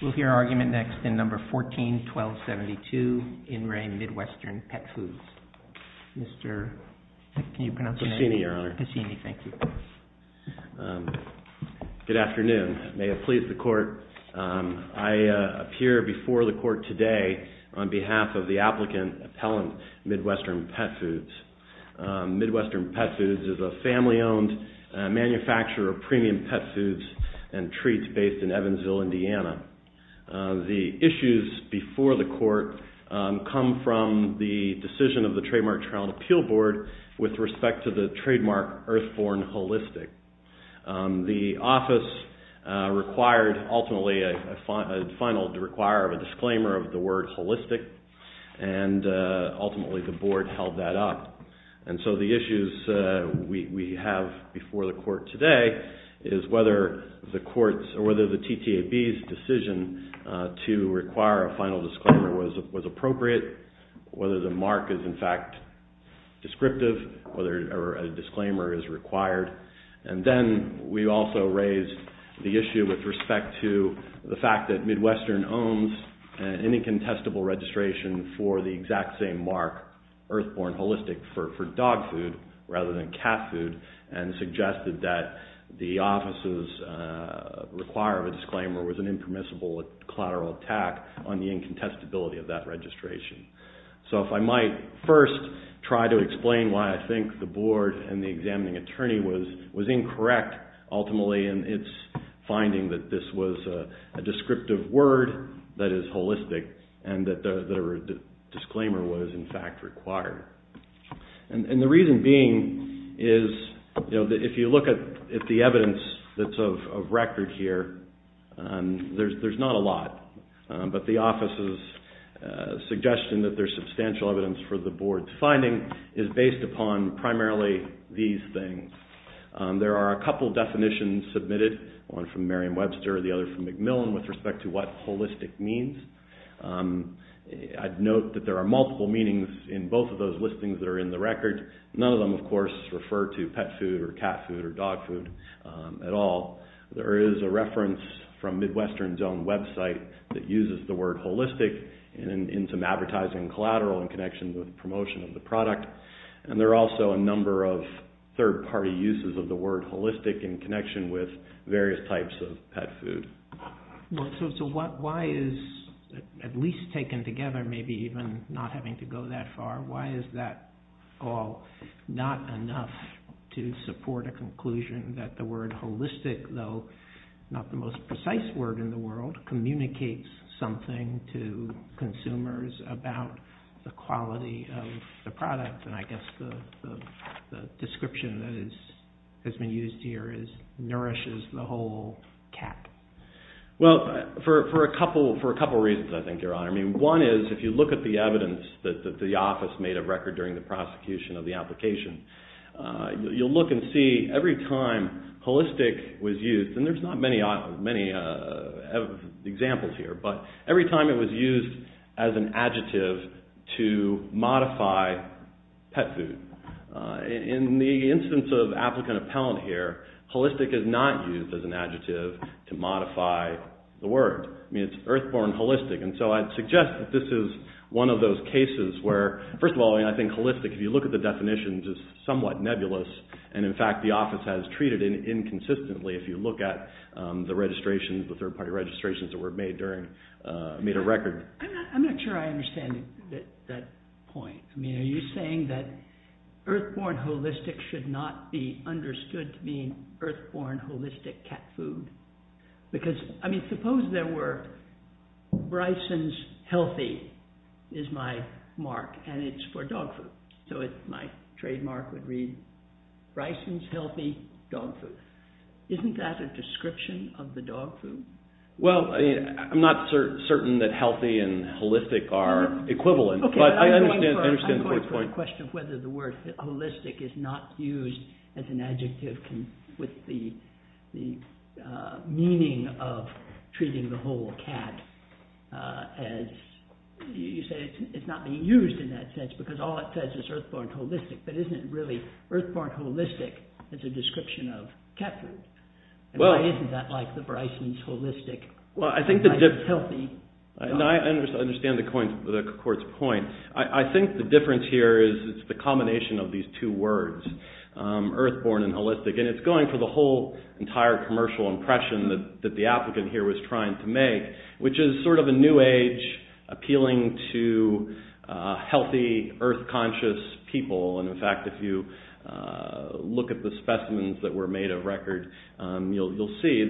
We'll hear argument next in number 14-1272, In Re Midwestern Pet Foods. Mr. Can you pronounce your name? Cassini, Your Honor. Cassini, thank you. Good afternoon. May it please the court, I appear before the court today on behalf of the applicant, Appellant Midwestern Pet Foods. Midwestern Pet Foods is a family-owned manufacturer of premium pet foods and treats based in Evansville, Indiana. The issues before the court come from the decision of the Trademark Child Appeal Board with respect to the trademark Earthborn Holistic. The office required ultimately a final to require a disclaimer of the word holistic and ultimately the board held that up. And so the issues we have before the court today is whether the courts or whether the TTAB's decision to require a final disclaimer was appropriate, whether the mark is in fact descriptive, whether a disclaimer is required. And then we also raised the issue with respect to the fact that Midwestern owns any contestable registration for the exact same mark, Earthborn Holistic, for dog food rather than cat food and suggested that the office's require of a disclaimer was an impermissible collateral attack on the incontestability of that registration. So if I might first try to explain why I think the board and the examining attorney was incorrect ultimately in its finding that this was a descriptive word that is holistic and that the disclaimer was in fact required. And the reason being is, you know, that if you look at the evidence that's of record here, there's not a lot, but the office's suggestion that there's substantial evidence for the board's finding is based upon primarily these things. There are a couple definitions submitted, one from Merriam-Webster, the other from McMillan with respect to what holistic means. I'd note that there are multiple meanings in both of those listings that are in the record. None of them, of course, refer to pet food or cat food or dog food at all. There is a reference from Midwestern's own website that uses the word holistic in some advertising collateral in connection with promotion of the product. And there are also a number of third-party uses of the word holistic in connection with various types of pet food. So why is, at least taken together, maybe even not having to go that far, why is that all not enough to support a conclusion that the word holistic, though not the most precise word in the world, communicates something to consumers about the quality of the product? And I guess the description that has been used here is nourishes the whole cat. Well, for a couple reasons, I think, Your Honor. I mean, one is if you look at the evidence that the office made a record during the prosecution of the application, you'll look and see every time holistic was used, and there's not many examples here, but every time it was used as an adjective to modify pet food. In the instance of applicant-appellant here, holistic is not used as an adjective to modify the word. I mean, it's earthborn holistic. And so I'd suggest that this is one of those cases where, first of all, I think holistic, if you look at the definitions, is somewhat nebulous, and in fact, the office has treated it inconsistently if you look at the registrations, the third-party registrations that were made during, made a record. I'm not sure I understand that point. I mean, are you saying that earthborn holistic should not be understood to mean earthborn holistic cat food? Because, I mean, suppose there were Bryson's Healthy is my mark, and it's for dog food. So my trademark would read Bryson's Healthy Dog Food. Isn't that a description of the dog food? Well, I mean, I'm not certain that healthy and holistic are equivalent, but I understand the point. The question of whether the word holistic is not used as an adjective with the meaning of treating the whole cat, as you said, it's not being used in that sense, because all it says is earthborn holistic. But isn't it really earthborn holistic as a description of cat food? And why isn't that like the Bryson's holistic? Well, I think the difference... Healthy... No, I understand the court's point. I think the difference here is it's the combination of these two words, earthborn and holistic. And it's going for the whole entire commercial impression that the applicant here was trying to make, which is sort of a new age appealing to healthy earth-conscious people. And in fact, if you look at the specimens that were made of record, you'll see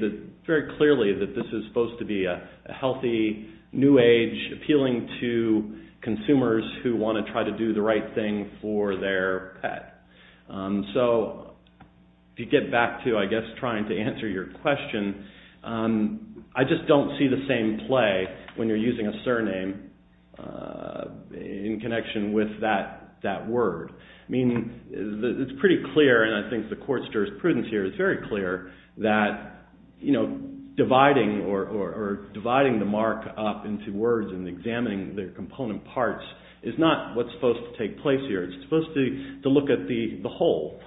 very clearly that this is supposed to be a healthy new age appealing to consumers who want to try to do the right thing for their pet. So if you get back to, I guess, trying to answer your question, I just don't see the same play when you're using a surname in connection with that word. I mean, it's pretty clear, and I think the court stirs prudence here. It's very clear that dividing or dividing the mark up into words and examining the component parts is not what's supposed to take place here. It's supposed to look at the whole,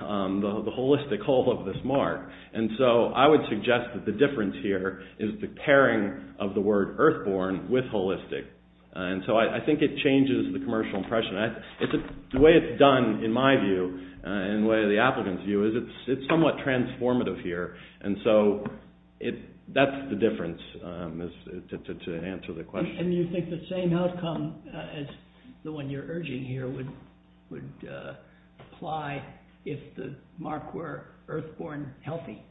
the holistic whole of this mark. And so I would suggest that the difference here is the pairing of the word earthborn with holistic. And so I think it changes the commercial impression. The way it's done, in my view, in the way of the applicant's view, is it's somewhat transformative here. And so that's the difference, to answer the question. And you think the same outcome as the one you're urging here would apply if the mark were earthborn healthy?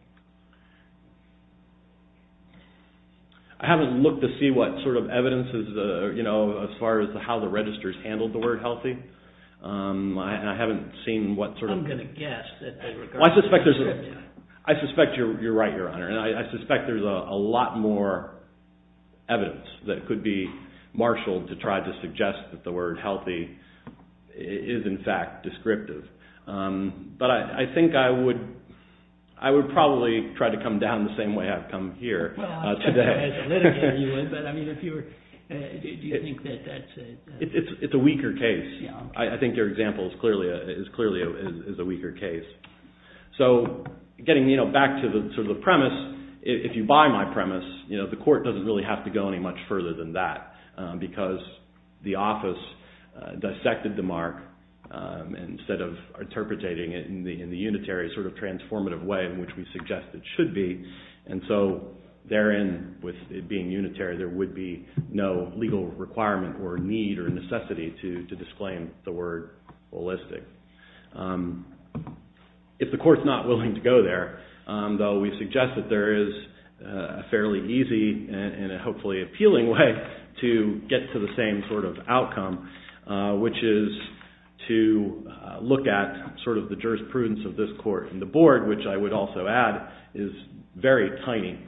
I haven't looked to see what sort of evidence, as far as how the registers handled the word healthy, and I haven't seen what sort of- I'm going to guess that they regard it as descriptive. I suspect you're right, Your Honor. And I suspect there's a lot more evidence that could be marshaled to try to suggest that the word healthy is, in fact, descriptive. But I think I would probably try to come down the same way I've come here today. Well, I'd say that as a litigator you would, but I mean, if you were, do you think that that's a- It's a weaker case. I think your example is clearly a weaker case. So getting back to the premise, if you buy my premise, the court doesn't really have to go any much further than that, because the office dissected the mark instead of interpreting it in the unitary sort of transformative way in which we suggest it should be. And so therein, with it being unitary, there would be no legal requirement or need or necessity to disclaim the word holistic. If the court's not willing to go there, though, we suggest that there is a fairly easy and hopefully appealing way to get to the same sort of outcome, which is to look at sort of the jurisprudence of this court and the board, which I would also add is very tiny.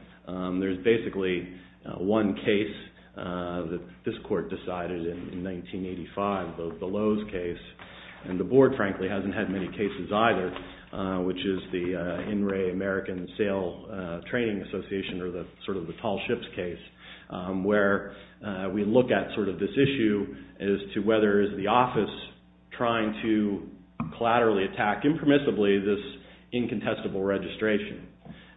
There's basically one case that this court decided in 1985, the Lowe's case, and the board, frankly, hasn't had many cases either, which is the In Re American Sail Training Association, or sort of the Tall Ships case, where we look at sort of this issue as to whether is the office trying to collaterally attack impermissibly this incontestable registration.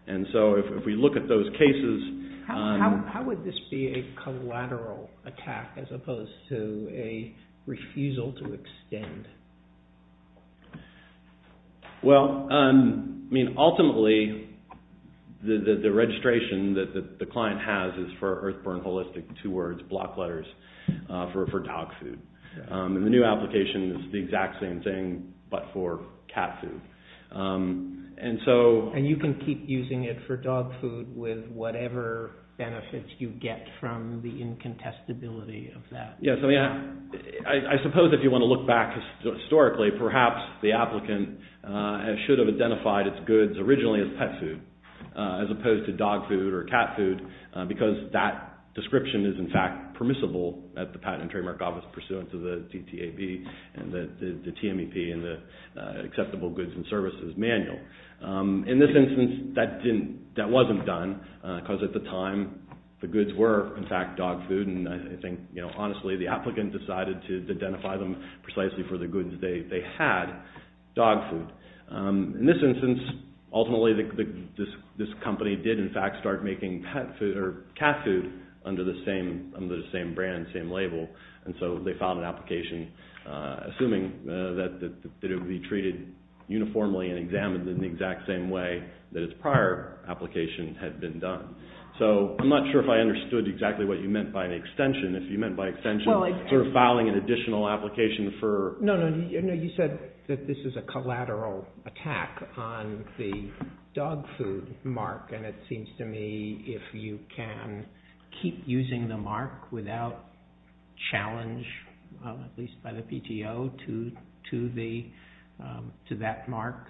And so if we look at those cases... How would this be a collateral attack as opposed to a refusal to extend? Well, I mean, ultimately, the registration that the client has is for earthburn holistic, two words, block letters, for dog food. And the new application is the exact same thing, but for cat food. And you can keep using it for dog food with whatever benefits you get from the incontestability of that. Yes. I mean, I suppose if you want to look back historically, perhaps the applicant should have identified its goods originally as pet food, as opposed to dog food or cat food, because that description is in fact permissible at the Patent and Trademark Office pursuant to the DTAB and the TMEP and the Acceptable Goods and Services Manual. In this instance, that wasn't done, because at the time, the goods were, in fact, dog food. And I think, honestly, the applicant decided to identify them precisely for the goods they had, dog food. In this instance, ultimately, this company did, in fact, start making cat food under the same brand, same label. And so they filed an application, assuming that it would be treated uniformly and examined in the exact same way that its prior application had been done. So I'm not sure if I understood exactly what you meant by an extension. If you meant by extension, sort of filing an additional application for… No, no. You said that this is a collateral attack on the dog food mark. And it seems to me, if you can keep using the mark without challenge, at least by the PTO, to that mark,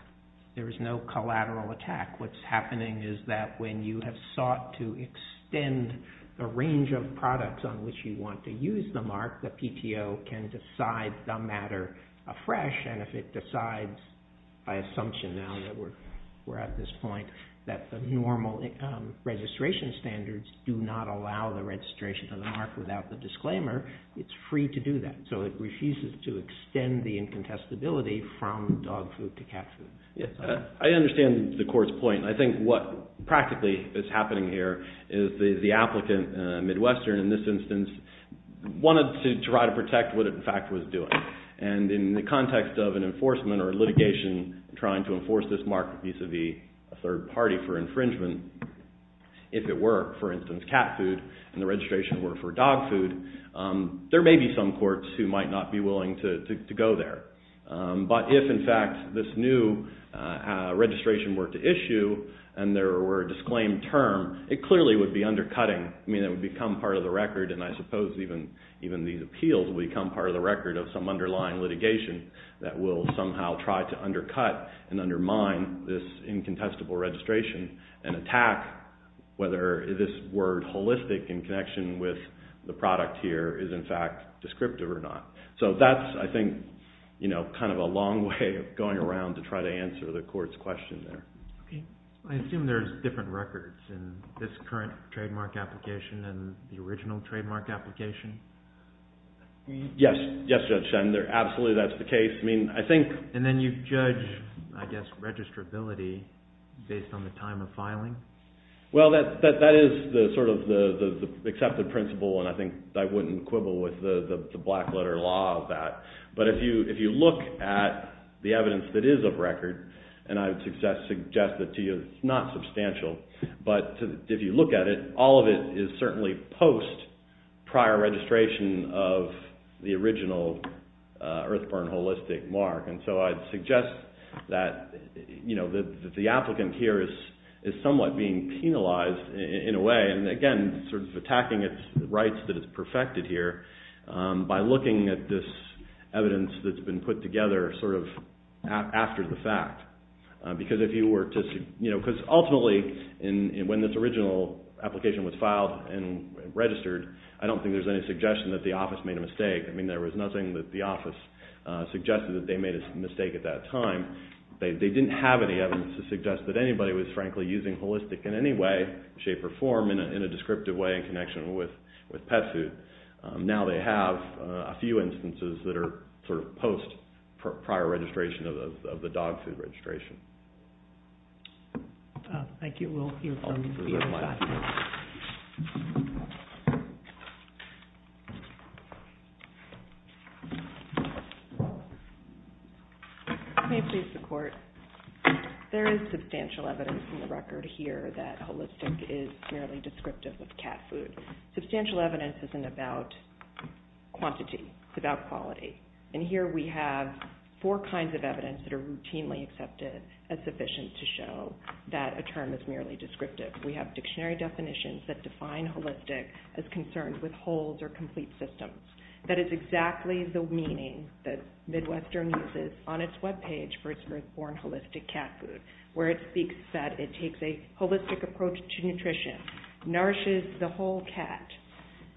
there is no collateral attack. What's happening is that when you have sought to extend the range of products on which you want to use the mark, the PTO can decide the matter afresh. And if it decides, by assumption now that we're at this point, that the normal registration standards do not allow the registration of the mark without the disclaimer, it's free to do that. So it refuses to extend the incontestability from dog food to cat food. I understand the court's point. I think what practically is happening here is the applicant, Midwestern, in this instance, wanted to try to protect what it, in fact, was doing. And in the context of an enforcement or litigation trying to enforce this mark vis-a-vis a third party for infringement, if it were, for instance, cat food and the registration were for dog food, there may be some courts who might not be willing to go there. But if, in fact, this new registration were to issue and there were a disclaimed term, it clearly would be undercutting. I mean, it would become part of the record. And I suppose even these appeals will become part of the record of some underlying litigation that will somehow try to undercut and undermine this incontestable registration and attack whether this word holistic in connection with the product here is, in fact, descriptive or not. So that's, I think, kind of a long way of going around to try to answer the court's question there. Okay. I assume there's different records in this current trademark application and the original trademark application? Yes. Yes, Judge Shen. Absolutely, that's the case. I mean, I think... And then you judge, I guess, registrability based on the time of filing? Well, that is sort of the accepted principle, and I think I wouldn't quibble with the black letter law of that. But if you look at the evidence that is of record, and I would suggest that to you it's not substantial. But if you look at it, all of it is certainly post prior registration of the original Earthburn holistic mark. And so I'd suggest that the applicant here is somewhat being penalized in a way, and again, sort of attacking its rights that it's perfected here by looking at this evidence that's been put together sort of after the fact. Because ultimately, when this original application was filed and registered, I don't think there's any suggestion that the office made a mistake. I mean, there was nothing that the office suggested that they made a mistake at that time. They didn't have any evidence to suggest that anybody was, frankly, using holistic in any way, shape, or form in a descriptive way in connection with pet food. Now they have a few instances that are sort of post prior registration of the dog food post prior registration. Thank you. We'll hear from you. May it please the court. There is substantial evidence in the record here that holistic is merely descriptive of cat food. Substantial evidence isn't about quantity. It's about quality. And here we have four kinds of evidence that are routinely accepted as sufficient to show that a term is merely descriptive. We have dictionary definitions that define holistic as concerned with wholes or complete systems. That is exactly the meaning that Midwestern uses on its webpage for its birth-born holistic cat food, where it speaks that it takes a holistic approach to nutrition, nourishes the whole cat.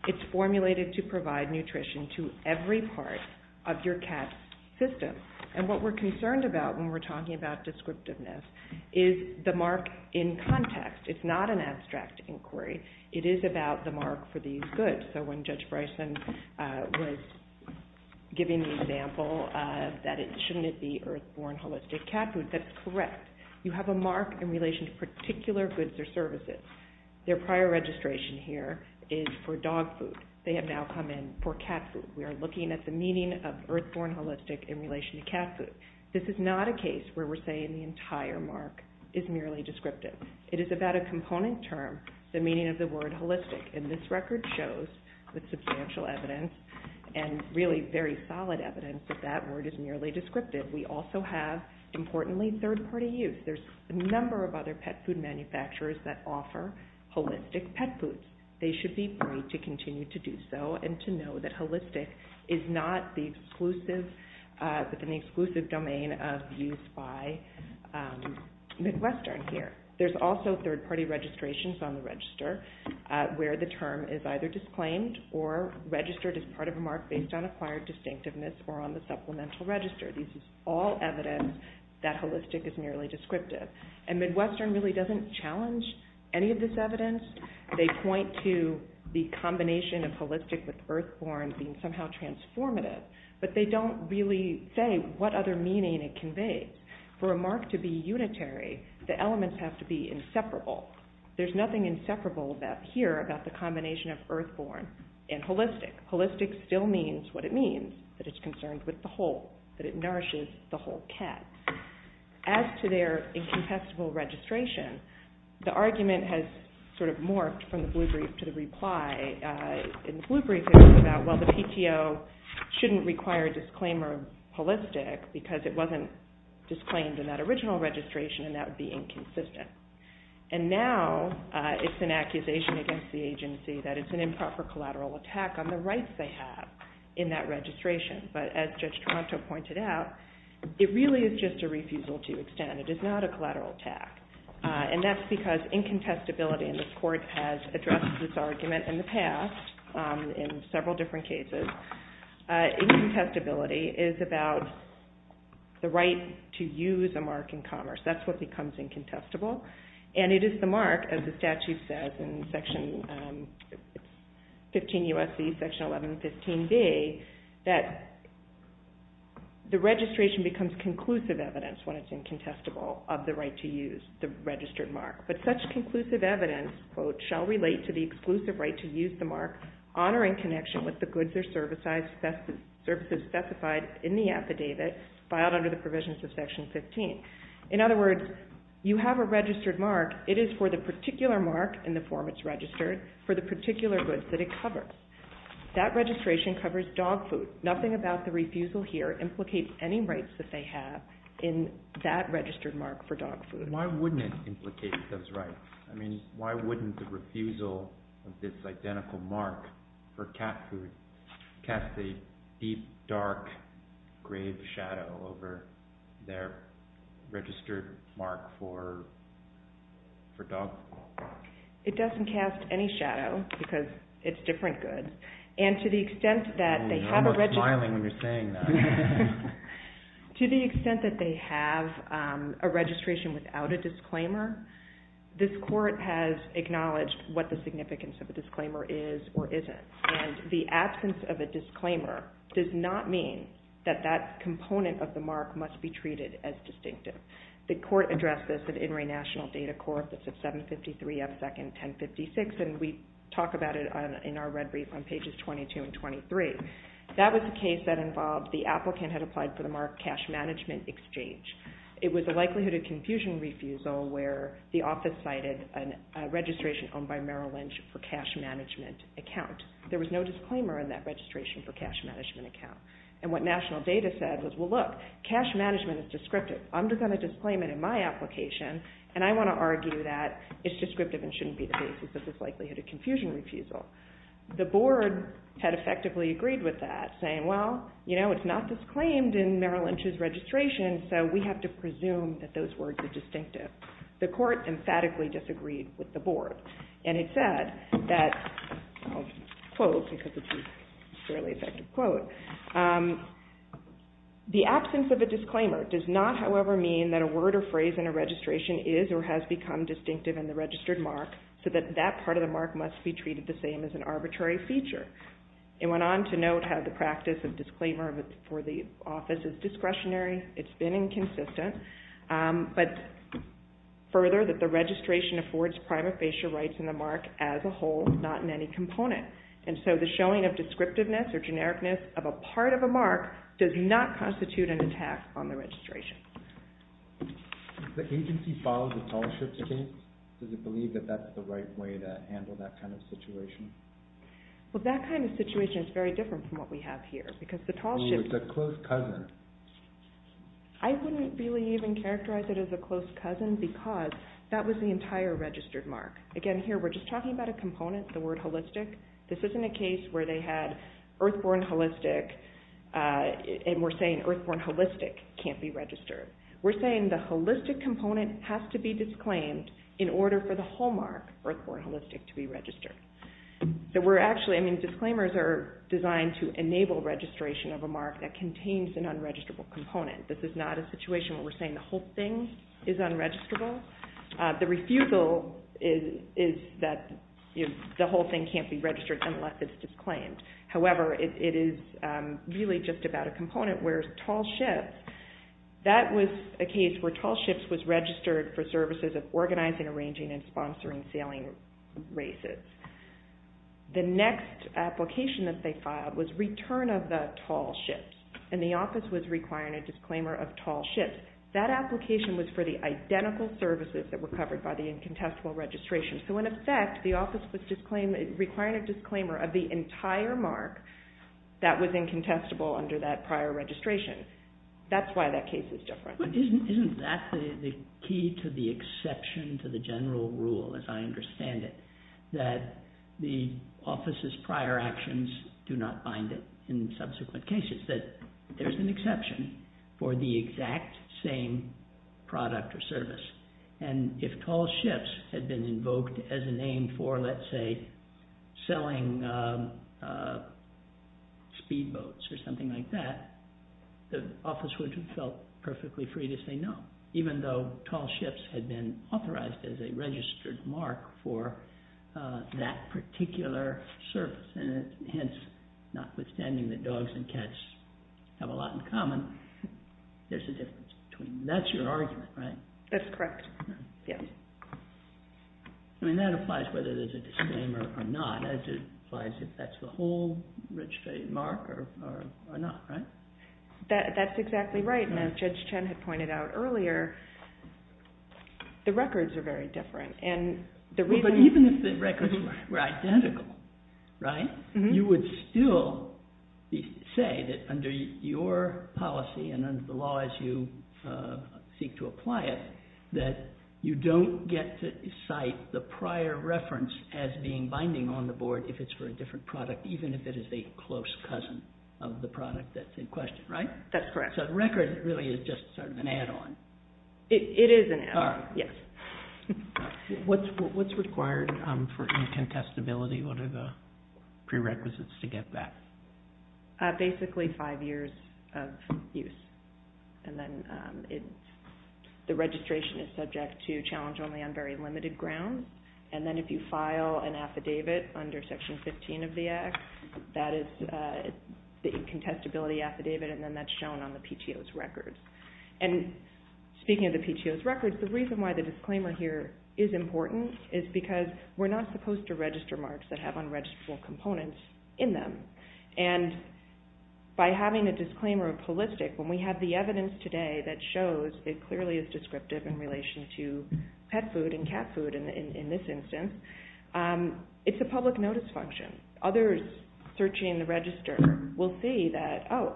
It's formulated to provide nutrition to every part of your cat's system. And what we're concerned about when we're talking about descriptiveness is the mark in context. It's not an abstract inquiry. It is about the mark for these goods. So when Judge Bryson was giving the example that it shouldn't be earth-born holistic cat food, that's correct. You have a mark in relation to particular goods or services. Their prior registration here is for dog food. They have now come in for cat food. We are looking at the meaning of earth-born holistic in relation to cat food. This is not a case where we're saying the entire mark is merely descriptive. It is about a component term, the meaning of the word holistic. And this record shows with substantial evidence and really very solid evidence that that word is merely descriptive. We also have, importantly, third-party use. There's a number of other pet food manufacturers that offer holistic pet foods. They should be free to continue to do so and to know that holistic is not an exclusive domain of use by Midwestern here. There's also third-party registrations on the register where the term is either disclaimed or registered as part of a mark based on acquired distinctiveness or on the supplemental register. This is all evidence that holistic is merely descriptive. And Midwestern really doesn't challenge any of this evidence. They point to the combination of holistic with earth-born being somehow transformative, but they don't really say what other meaning it conveys. For a mark to be unitary, the elements have to be inseparable. There's nothing inseparable here about the combination of earth-born and holistic. Holistic still means what it means, that it's concerned with the whole, that it nourishes the whole cat. As to their incontestable registration, the argument has sort of morphed from the Blue Brief to the reply. In the Blue Brief, it was about, well, the PTO shouldn't require a disclaimer of holistic because it wasn't disclaimed in that original registration, and that would be inconsistent. And now it's an accusation against the agency that it's an improper collateral attack on the rights they have in that registration. But as Judge Toronto pointed out, it really is just a refusal to extend. It is not a collateral attack. And that's because incontestability, and this Court has addressed this argument in the past in several different cases, incontestability is about the right to use a mark in commerce. That's what becomes incontestable. And it is the mark, as the statute says in Section 15 U.S.C., Section 1115b, that the registration becomes conclusive evidence when it's incontestable of the right to use the registered mark. But such conclusive evidence, quote, shall relate to the exclusive right to use the mark honoring connection with the goods or services specified in the affidavit filed under the provisions of Section 15. In other words, you have a registered mark. It is for the particular mark in the form it's registered for the particular goods that it covers. That registration covers dog food. Nothing about the refusal here implicates any rights that they have in that registered mark for dog food. Why wouldn't it implicate those rights? I mean, why wouldn't the refusal of this identical mark for cat food cast a deep, dark, grave shadow over their registered mark for dog food? It doesn't cast any shadow, because it's different goods. And to the extent that they have a regis- Oh, you're almost smiling when you're saying that. To the extent that they have a registration without a disclaimer, this court has acknowledged what the significance of a disclaimer is or isn't. And the absence of a disclaimer does not mean that that component of the mark must be treated as distinctive. The court addressed this at In re National Data Court. That's at 753 F. 2nd, 1056. And we talk about it in our red brief on pages 22 and 23. That was a case that involved the applicant had applied for the mark cash management exchange. It was a likelihood of confusion refusal where the office cited a registration owned by Merrill Lynch for cash management account. There was no disclaimer in that registration for cash management account. And what National Data said was, well, look, cash management is descriptive. I'm just going to disclaim it in my application. And I want to argue that it's descriptive and shouldn't be the basis of this likelihood of confusion refusal. The board had effectively agreed with that, saying, well, you know, it's not disclaimed in Merrill Lynch's registration. So we have to presume that those words are distinctive. The court emphatically disagreed with the board. And it said that, I'll quote because it's a fairly effective quote. The absence of a disclaimer does not, however, mean that a word or phrase in a registration is or has become distinctive in the registered mark so that that part of the mark must be treated the same as an arbitrary feature. It went on to note how the practice of disclaimer for the office is discretionary. It's been inconsistent. But further, that the registration affords prima facie rights in the mark as a whole, not in any component. And so the showing of descriptiveness or genericness of a part of a mark does not constitute an attack on the registration. The agency filed a tallship case. Does it believe that that's the right way to handle that kind of situation? Well, that kind of situation is very different from what we have here. Because the tallship. It's a close cousin. I wouldn't really even characterize it as a close cousin because that was the entire registered mark. Again, here we're just talking about a component, the word holistic. This isn't a case where they had earthborn holistic and we're saying earthborn holistic can't be registered. We're saying the holistic component has to be disclaimed in order for the whole mark, earthborn holistic, to be registered. So we're actually, I mean, disclaimers are designed to enable registration of a mark that contains an unregisterable component. This is not a situation where we're saying the whole thing is unregisterable. The refusal is that the whole thing can't be registered unless it's disclaimed. However, it is really just about a component where tallship, that was a case where tallship was registered for services of organizing, arranging, and sponsoring sailing races. The next application that they filed was return of the tallship and the office was requiring a disclaimer of tallship. That application was for the identical services that were covered by the incontestable registration. So in effect, the office was requiring a disclaimer of the entire mark that was incontestable under that prior registration. That's why that case is different. Isn't that the key to the exception to the general rule, as I understand it, that the office's prior actions do not bind it in subsequent cases, that there's an exception for the exact same product or service? And if tallships had been invoked as a name for, let's say, selling speedboats or something like that, the office would have felt perfectly free to say no, even though tallships had been authorized as a registered mark for that particular service. And hence, notwithstanding that dogs and cats have a lot in common, there's a difference between them. That's your argument, right? That's correct. I mean, that applies whether there's a disclaimer or not. It applies if that's the whole registered mark or not, right? That's exactly right. And as Judge Chen had pointed out earlier, the records are very different. Well, but even if the records were identical, right, you would still say that under your policy and under the law as you seek to apply it, that you don't get to cite the prior reference as being binding on the board if it's for a different product, even if it is a close cousin of the product that's in question, right? That's correct. So the record really is just sort of an add-on. It is an add-on, yes. What's required for incontestability? What are the prerequisites to get that? Basically, five years of use. And then the registration is subject to challenge only on very limited grounds. And then if you file an affidavit under Section 15 of the Act, that is the incontestability affidavit, and then that's shown on the PTO's records. And speaking of the PTO's records, the reason why the disclaimer here is important is because we're not supposed to register marks that have unregisterable components in them. And by having a disclaimer of holistic, when we have the evidence today that shows it clearly is descriptive in relation to pet food and cat food in this instance, it's a public notice function. Others searching the register will see that, oh,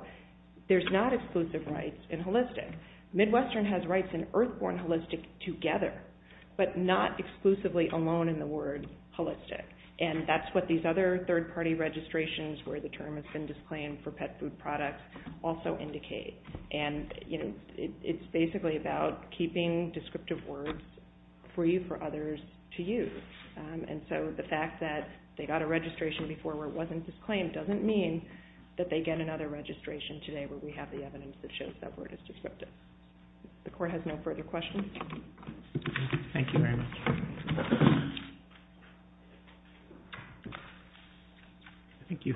there's not exclusive rights in holistic. Midwestern has rights in earth-born holistic together, but not exclusively alone in the word holistic. And that's what these other third-party registrations where the term has been disclaimed for pet food products also indicate. And, you know, it's basically about keeping descriptive words free for others to use. And so the fact that they got a registration before where it wasn't disclaimed doesn't mean that they get another registration today where we have the evidence that shows that word is descriptive. The Court has no further questions. Thank you very much. Thank you, Your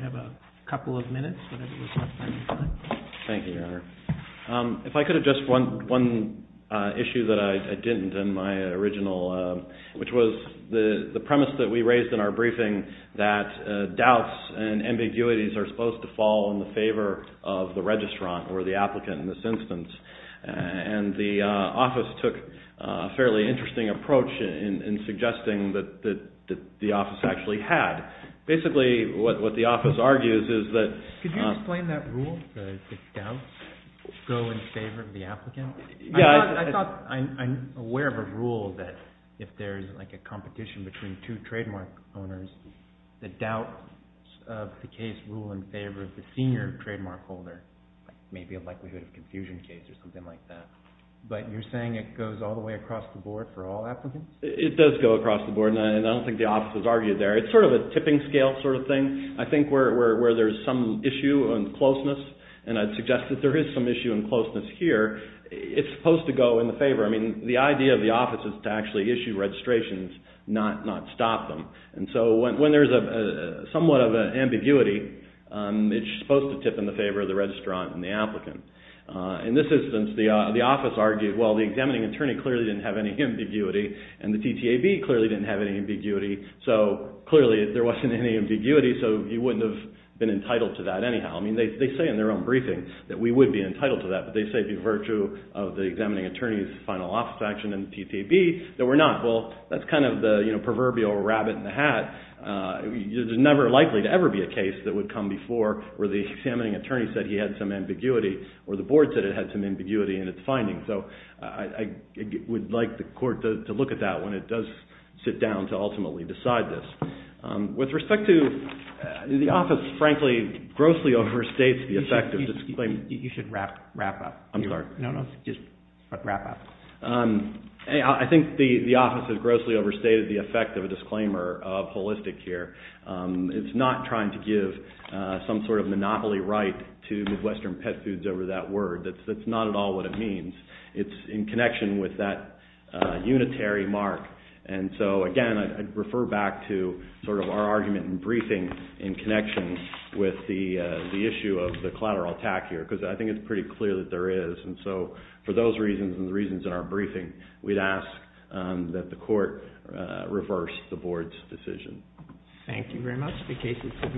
Honor. If I could have just one issue that I didn't in my original, which was the premise that we raised in our briefing that doubts and ambiguities are supposed to fall in the favor of the registrant or the applicant in this instance. And the office took a fairly interesting approach in suggesting that the office actually had. Basically, what the office argues is that— Go in favor of the applicant? Yeah. I thought I'm aware of a rule that if there's like a competition between two trademark owners, the doubt of the case rule in favor of the senior trademark holder, maybe a likelihood of confusion case or something like that. But you're saying it goes all the way across the board for all applicants? It does go across the board, and I don't think the office has argued there. It's sort of a tipping scale sort of thing. I think where there's some issue on closeness, and I'd suggest that there is some issue on closeness here, it's supposed to go in the favor. I mean, the idea of the office is to actually issue registrations, not stop them. And so when there's somewhat of an ambiguity, it's supposed to tip in the favor of the registrant and the applicant. In this instance, the office argued, well, the examining attorney clearly didn't have any ambiguity, and the TTAB clearly didn't have any ambiguity. So clearly, there wasn't any ambiguity, so you wouldn't have been entitled to that anyhow. I mean, they say in their own briefing that we would be entitled to that, but they say by virtue of the examining attorney's final office action and TTAB that we're not. Well, that's kind of the proverbial rabbit in the hat. There's never likely to ever be a case that would come before where the examining attorney said he had some ambiguity or the board said it had some ambiguity in its findings. So I would like the court to look at that when it does sit down to ultimately decide this. With respect to the office, frankly, grossly overstates the effect of this claim. You should wrap up. I'm sorry. No, no, just wrap up. I think the office has grossly overstated the effect of a disclaimer of holistic here. It's not trying to give some sort of monopoly right to Midwestern pet foods over that word. That's not at all what it means. It's in connection with that unitary mark. And so, again, I'd refer back to sort of our argument in briefing in connection with the issue of the collateral attack here, because I think it's pretty clear that there is. And so for those reasons and the reasons in our briefing, we'd ask that the court reverse the board's decision. Thank you very much. The case is submitted.